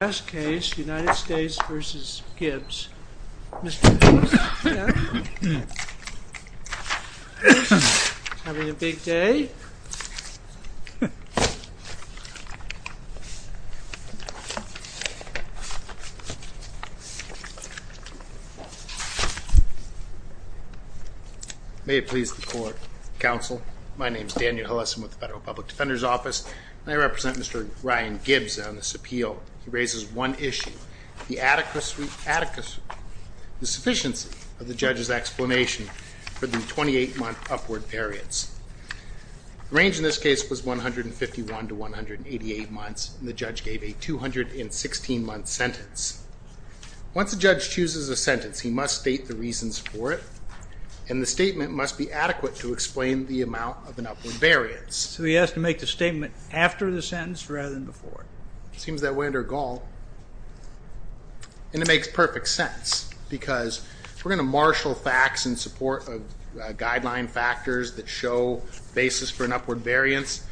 May it please the Court, Counsel. My name is Daniel Hillesum with the Federal Public Defender's Office and I represent Mr. Ryan Gibbs on this appeal. He raises one issue. The adequacy. The sufficiency of the Judge's explanation for 28-month upward variance. Range in this case was 151-188 months. When the judge gave a 216 month sentence. Once the judge chooses a sentence, he must state the reasons for it and the statement must be adequate to explain the amount of an upward variance. So he has to make the statement after the sentence rather than before? Seems that way under Gaul. And it makes perfect sense because we're going to marshal facts in support of guideline factors that show basis for an upward variance.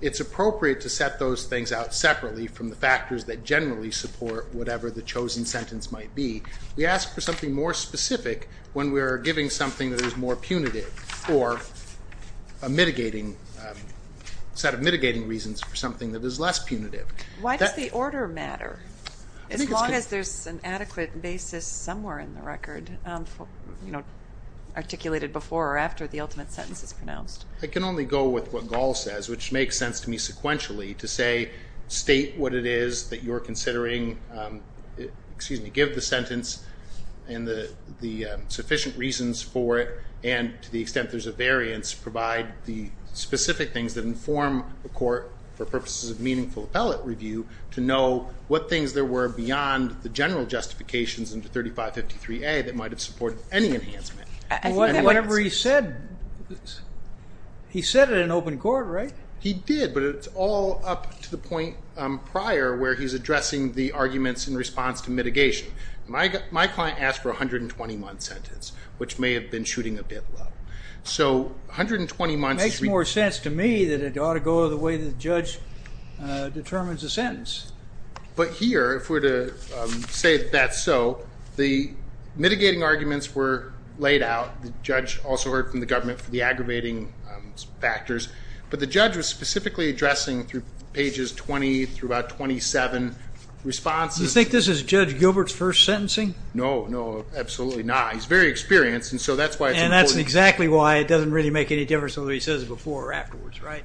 It's appropriate to set those things out separately from the factors that generally support whatever the chosen sentence might be. We ask for something more specific when we're giving something that is more punitive or a mitigating, set of mitigating reasons for something that is less punitive. Why does the order matter? As long as there's an adequate basis somewhere in the record. Articulated before or after the ultimate sentence is pronounced. I can only go with what Gaul says, which makes sense to me sequentially. To say, state what it is that you're considering, excuse me, give the sentence and the sufficient reasons for it. And to the extent there's a variance, provide the specific things that inform the court for purposes of meaningful appellate review to know what things there were beyond the general justifications in the 3553A that might have supported any enhancement. I think whatever he said, he said it in open court, right? He did, but it's all up to the point prior where he's addressing the arguments in response to mitigation. My client asked for a 120 month sentence, which may have been shooting a bit low. So 120 months- It makes more sense to me that it ought to go the way the judge determines the sentence. But here, if we're to say that's so, the mitigating arguments were laid out. The judge also heard from the government for the aggravating factors. But the judge was specifically addressing through pages 20 through about 27 responses. You think this is Judge Gilbert's first sentencing? No, no, absolutely not. He's very experienced, and so that's why it's important. And that's exactly why it doesn't really make any difference whether he says it before or afterwards, right?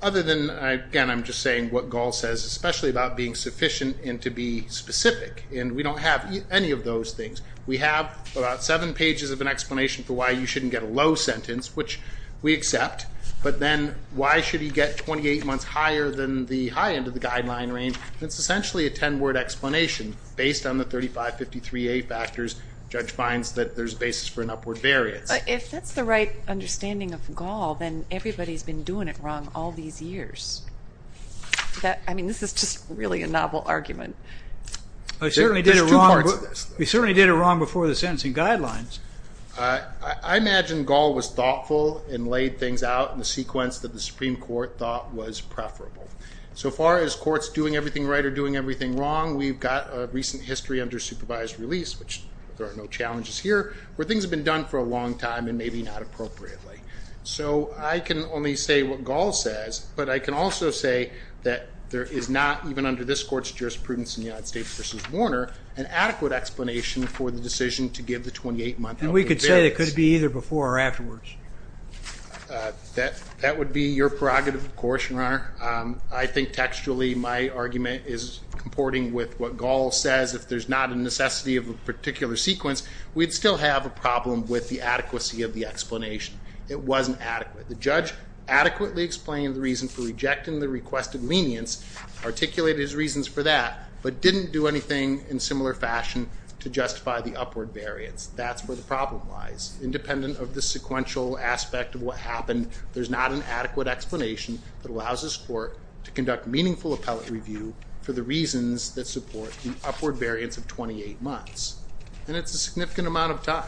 Other than, again, I'm just saying what Gall says, especially about being sufficient and to be specific. And we don't have any of those things. We have about seven pages of an explanation for why you shouldn't get a low sentence, which we accept. But then why should he get 28 months higher than the high end of the guideline range? It's essentially a 10-word explanation based on the 3553A factors. Judge finds that there's a basis for an upward variance. If that's the right understanding of Gall, then everybody's been doing it wrong all these years. I mean, this is just really a novel argument. I certainly did it wrong before the sentencing guidelines. I imagine Gall was thoughtful and laid things out in the sequence that the Supreme Court thought was preferable. So far as courts doing everything right or doing everything wrong, we've got a recent history under supervised release, which there are no challenges here, where things have been done for a long time and maybe not appropriately. So I can only say what Gall says. But I can also say that there is not, even under this court's jurisprudence in the United States v. Warner, an adequate explanation for the decision to give the 28-month upward variance. And we could say it could be either before or afterwards? That would be your prerogative, of course, Your Honor. I think textually my argument is comporting with what Gall says. If there's not a necessity of a particular sequence, we'd still have a problem with the adequacy of the explanation. It wasn't adequate. The judge adequately explained the reason for rejecting the requested lenience, articulated his reasons for that, but didn't do anything in similar fashion to justify the upward variance. That's where the problem lies. Independent of the sequential aspect of what happened, there's not an adequate explanation that allows this court to conduct meaningful appellate review for the reasons that support the upward variance of 28 months. And it's a significant amount of time.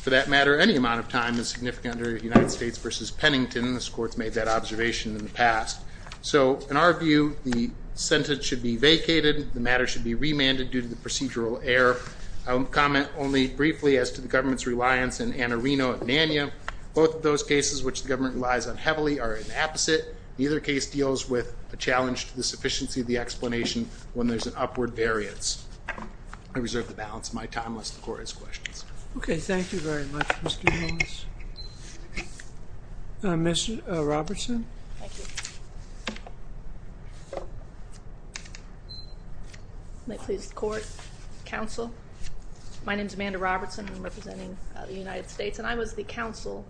For that matter, any amount of time is significant under United States v. Pennington. This court's made that observation in the past. So, in our view, the sentence should be vacated. The matter should be remanded due to the procedural error. I'll comment only briefly as to the government's reliance in Annarino and Nanya. Both of those cases, which the government relies on heavily, are an opposite. Neither case deals with a challenge to the sufficiency of the explanation when there's an upward variance. I reserve the balance of my time, lest the court has questions. Okay, thank you very much, Mr. Holmes. Ms. Robertson? Thank you. May it please the court, counsel. My name's Amanda Robertson. I'm representing the United States. And I was the counsel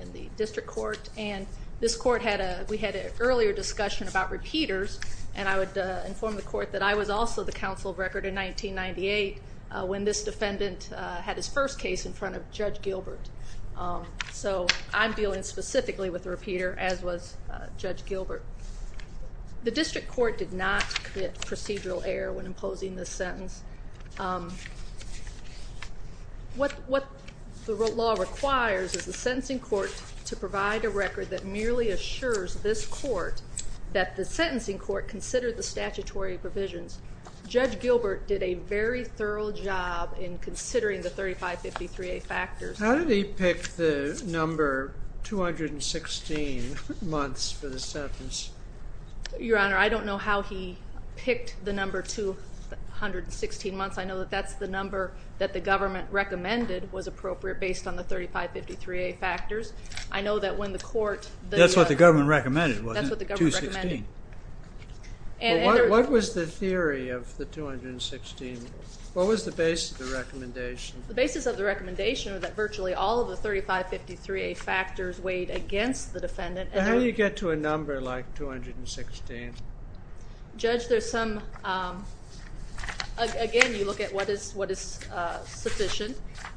in the district court. And this court, we had an earlier discussion about repeaters. And I would inform the court that I was also the counsel of record in 1998, when this defendant had his first case in front of Judge Gilbert. So, I'm dealing specifically with a repeater, as was Judge Gilbert. The district court did not commit procedural error when imposing this sentence. What the law requires is the sentencing court to provide a record that merely assures this court that the sentencing court considered the statutory provisions. Judge Gilbert did a very thorough job in considering the 3553A factors. How did he pick the number 216 months for the sentence? Your Honor, I don't know how he picked the number 216 months. I know that that's the number that the government recommended was appropriate, based on the 3553A factors. I know that when the court- That's what the government recommended, wasn't it? That's what the government recommended. 216. What was the theory of the 216? What was the basis of the recommendation? weighed against the defendant. How do you get to a number like 216? Judge, there's some, again, you look at what is sufficient,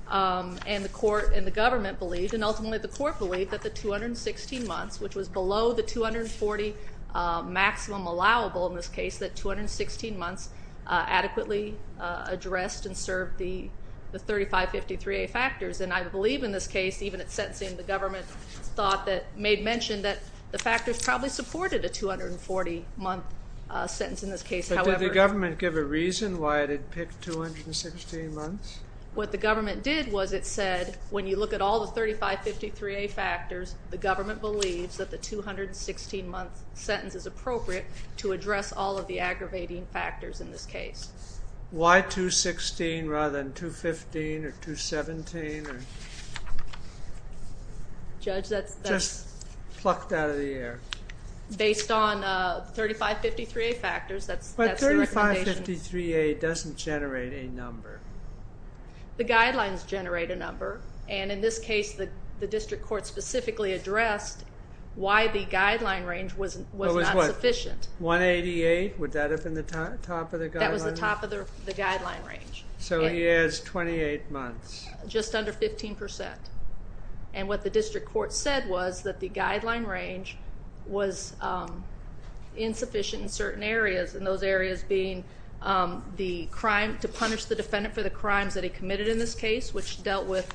and the court and the government believed, and ultimately the court believed, that the 216 months, which was below the 240 maximum allowable in this case, that 216 months adequately addressed and served the 3553A factors. And I believe in this case, even at sentencing, the government thought that, made mention that the factors probably supported a 240 month sentence in this case, however- But did the government give a reason why it had picked 216 months? What the government did was it said, when you look at all the 3553A factors, the government believes that the 216 month sentence is appropriate to address all of the aggravating factors in this case. Why 216 rather than 215 or 217? Judge, that's- Just plucked out of the air. Based on 3553A factors, that's the recommendation. But 3553A doesn't generate a number. The guidelines generate a number, and in this case, the district court specifically addressed why the guideline range was not sufficient. 188, would that have been the top of the guideline? That was the top of the guideline range. So he adds 28 months. Just under 15%. And what the district court said was that the guideline range was insufficient in certain areas, and those areas being the crime, to punish the defendant for the crimes that he committed in this case, which dealt with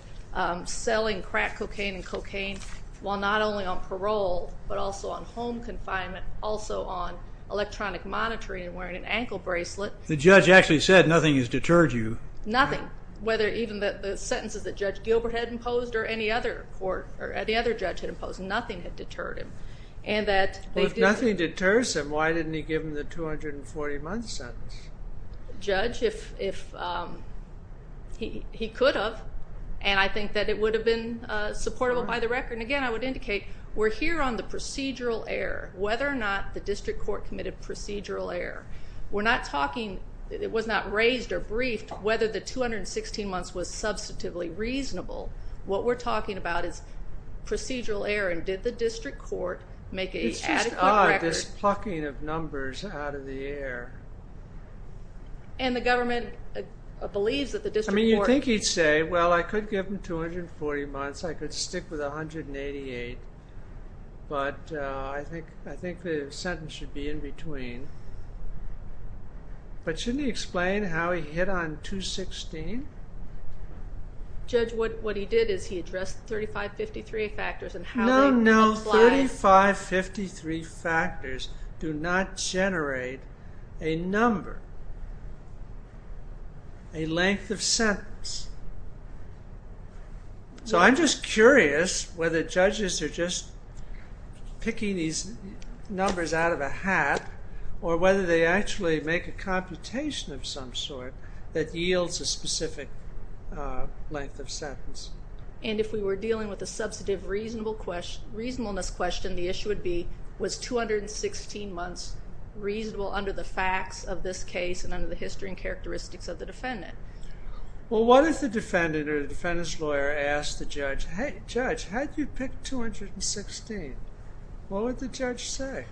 selling crack cocaine and cocaine while not only on parole, but also on home confinement, also on electronic monitoring and wearing an ankle bracelet. The judge actually said nothing has deterred you. Nothing, whether even the sentences that Judge Gilbert had imposed or any other court, or any other judge had imposed, nothing had deterred him. And that- But if nothing deters him, why didn't he give him the 240 month sentence? Judge, if he could have, and I think that it would have been supportable by the record. And again, I would indicate, we're here on the procedural error, whether or not the district court committed procedural error. We're not talking, it was not raised or briefed whether the 216 months was substantively reasonable. What we're talking about is procedural error. And did the district court make a record? It's just odd, this plucking of numbers out of the air. And the government believes that the district court- I mean, you'd think he'd say, well, I could give him 240 months. I could stick with 188. But I think the sentence should be in between. But shouldn't he explain how he hit on 216? Judge, what he did is he addressed 3553 factors and how they- No, no, 3553 factors do not generate a number, a length of sentence. So I'm just curious whether judges are just picking these numbers out of a hat or whether they actually make a computation of some sort that yields a specific length of sentence. And if we were dealing with a substantive reasonableness question, the issue would be, was 216 months reasonable under the facts of this case and under the history and characteristics of the defendant? Well, what if the defendant or the defendant's lawyer asked the judge, hey, judge, how did you pick 216? What would the judge say?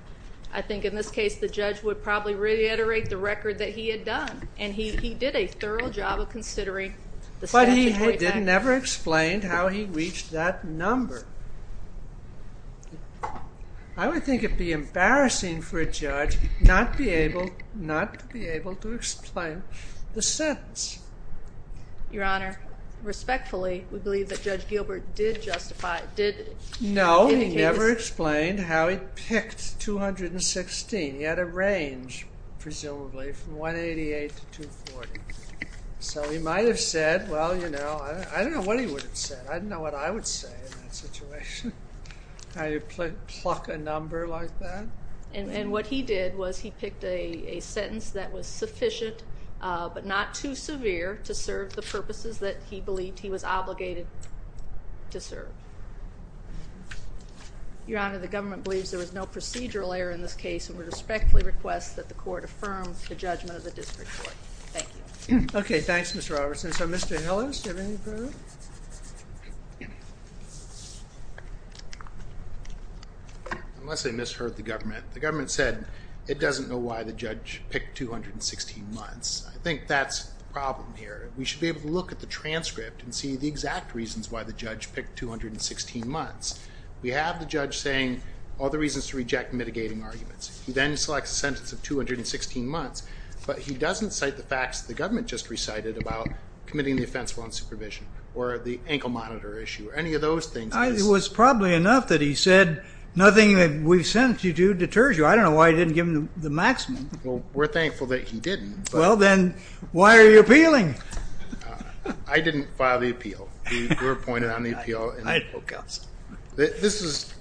I think in this case, the judge would probably reiterate the record that he had done. And he did a thorough job of considering the sentence- But he never explained how he reached that number. I would think it'd be embarrassing for a judge not to be able to explain the sentence. Your Honor, respectfully, we believe that Judge Gilbert did justify- No, he never explained how he picked 216. He had a range, presumably, from 188 to 240. So he might have said, well, you know, I don't know what he would have said. I don't know what I would say in that situation. How you pluck a number like that. And what he did was he picked a sentence that was sufficient but not too severe to serve the purposes that he believed he was obligated to serve. Your Honor, the government believes there was no procedural error in this case and would respectfully request that the court affirm the judgment of the district court. Thank you. Okay, thanks, Mr. Robertson. So, Mr. Hillis, do you have anything to prove? Unless I misheard the government. The government said it doesn't know why the judge picked 216 months. I think that's the problem here. We should be able to look at the transcript and see the exact reasons why the judge picked 216 months. We have the judge saying all the reasons to reject mitigating arguments. He then selects a sentence of 216 months. But he doesn't cite the facts that the government just recited about committing the offense while in supervision, or the ankle monitor issue, or any of those things. It was probably enough that he said nothing that we've sent you to deters you. I don't know why he didn't give him the maximum. Well, we're thankful that he didn't. Well, then, why are you appealing? I didn't file the appeal. We were appointed on the appeal. I had no counsel. This is,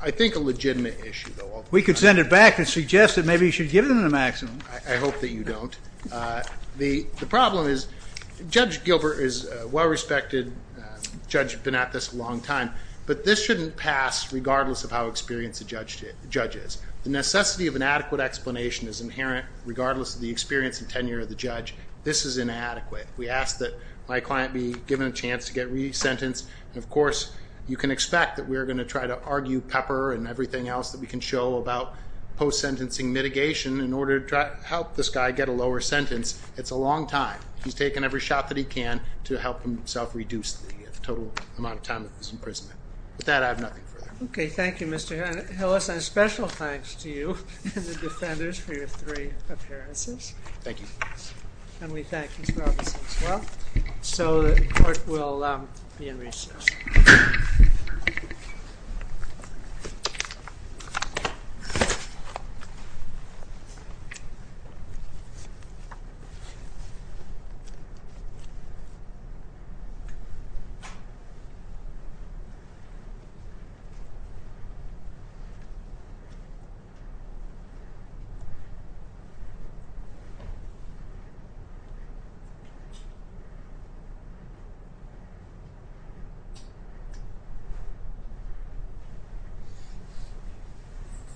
I think, a legitimate issue, though. We could send it back and suggest that maybe you should give him the maximum. I hope that you don't. The problem is, Judge Gilbert is well-respected. Judge, you've been at this a long time. But this shouldn't pass regardless of how experienced the judge is. The necessity of an adequate explanation is inherent, regardless of the experience and tenure of the judge. This is inadequate. We ask that my client be given a chance to get re-sentenced. And of course, you can expect that we're going to try to argue Pepper and everything else that we can show about post-sentencing mitigation in order to help this guy get a lower sentence. It's a long time. He's taken every shot that he can to help himself reduce the total amount of time that he's in prison. With that, I have nothing further. Okay, thank you, Mr. Hillis. And a special thanks to you and the defenders for your three appearances. Thank you. And we thank you for all this as well. So the court will be in recess.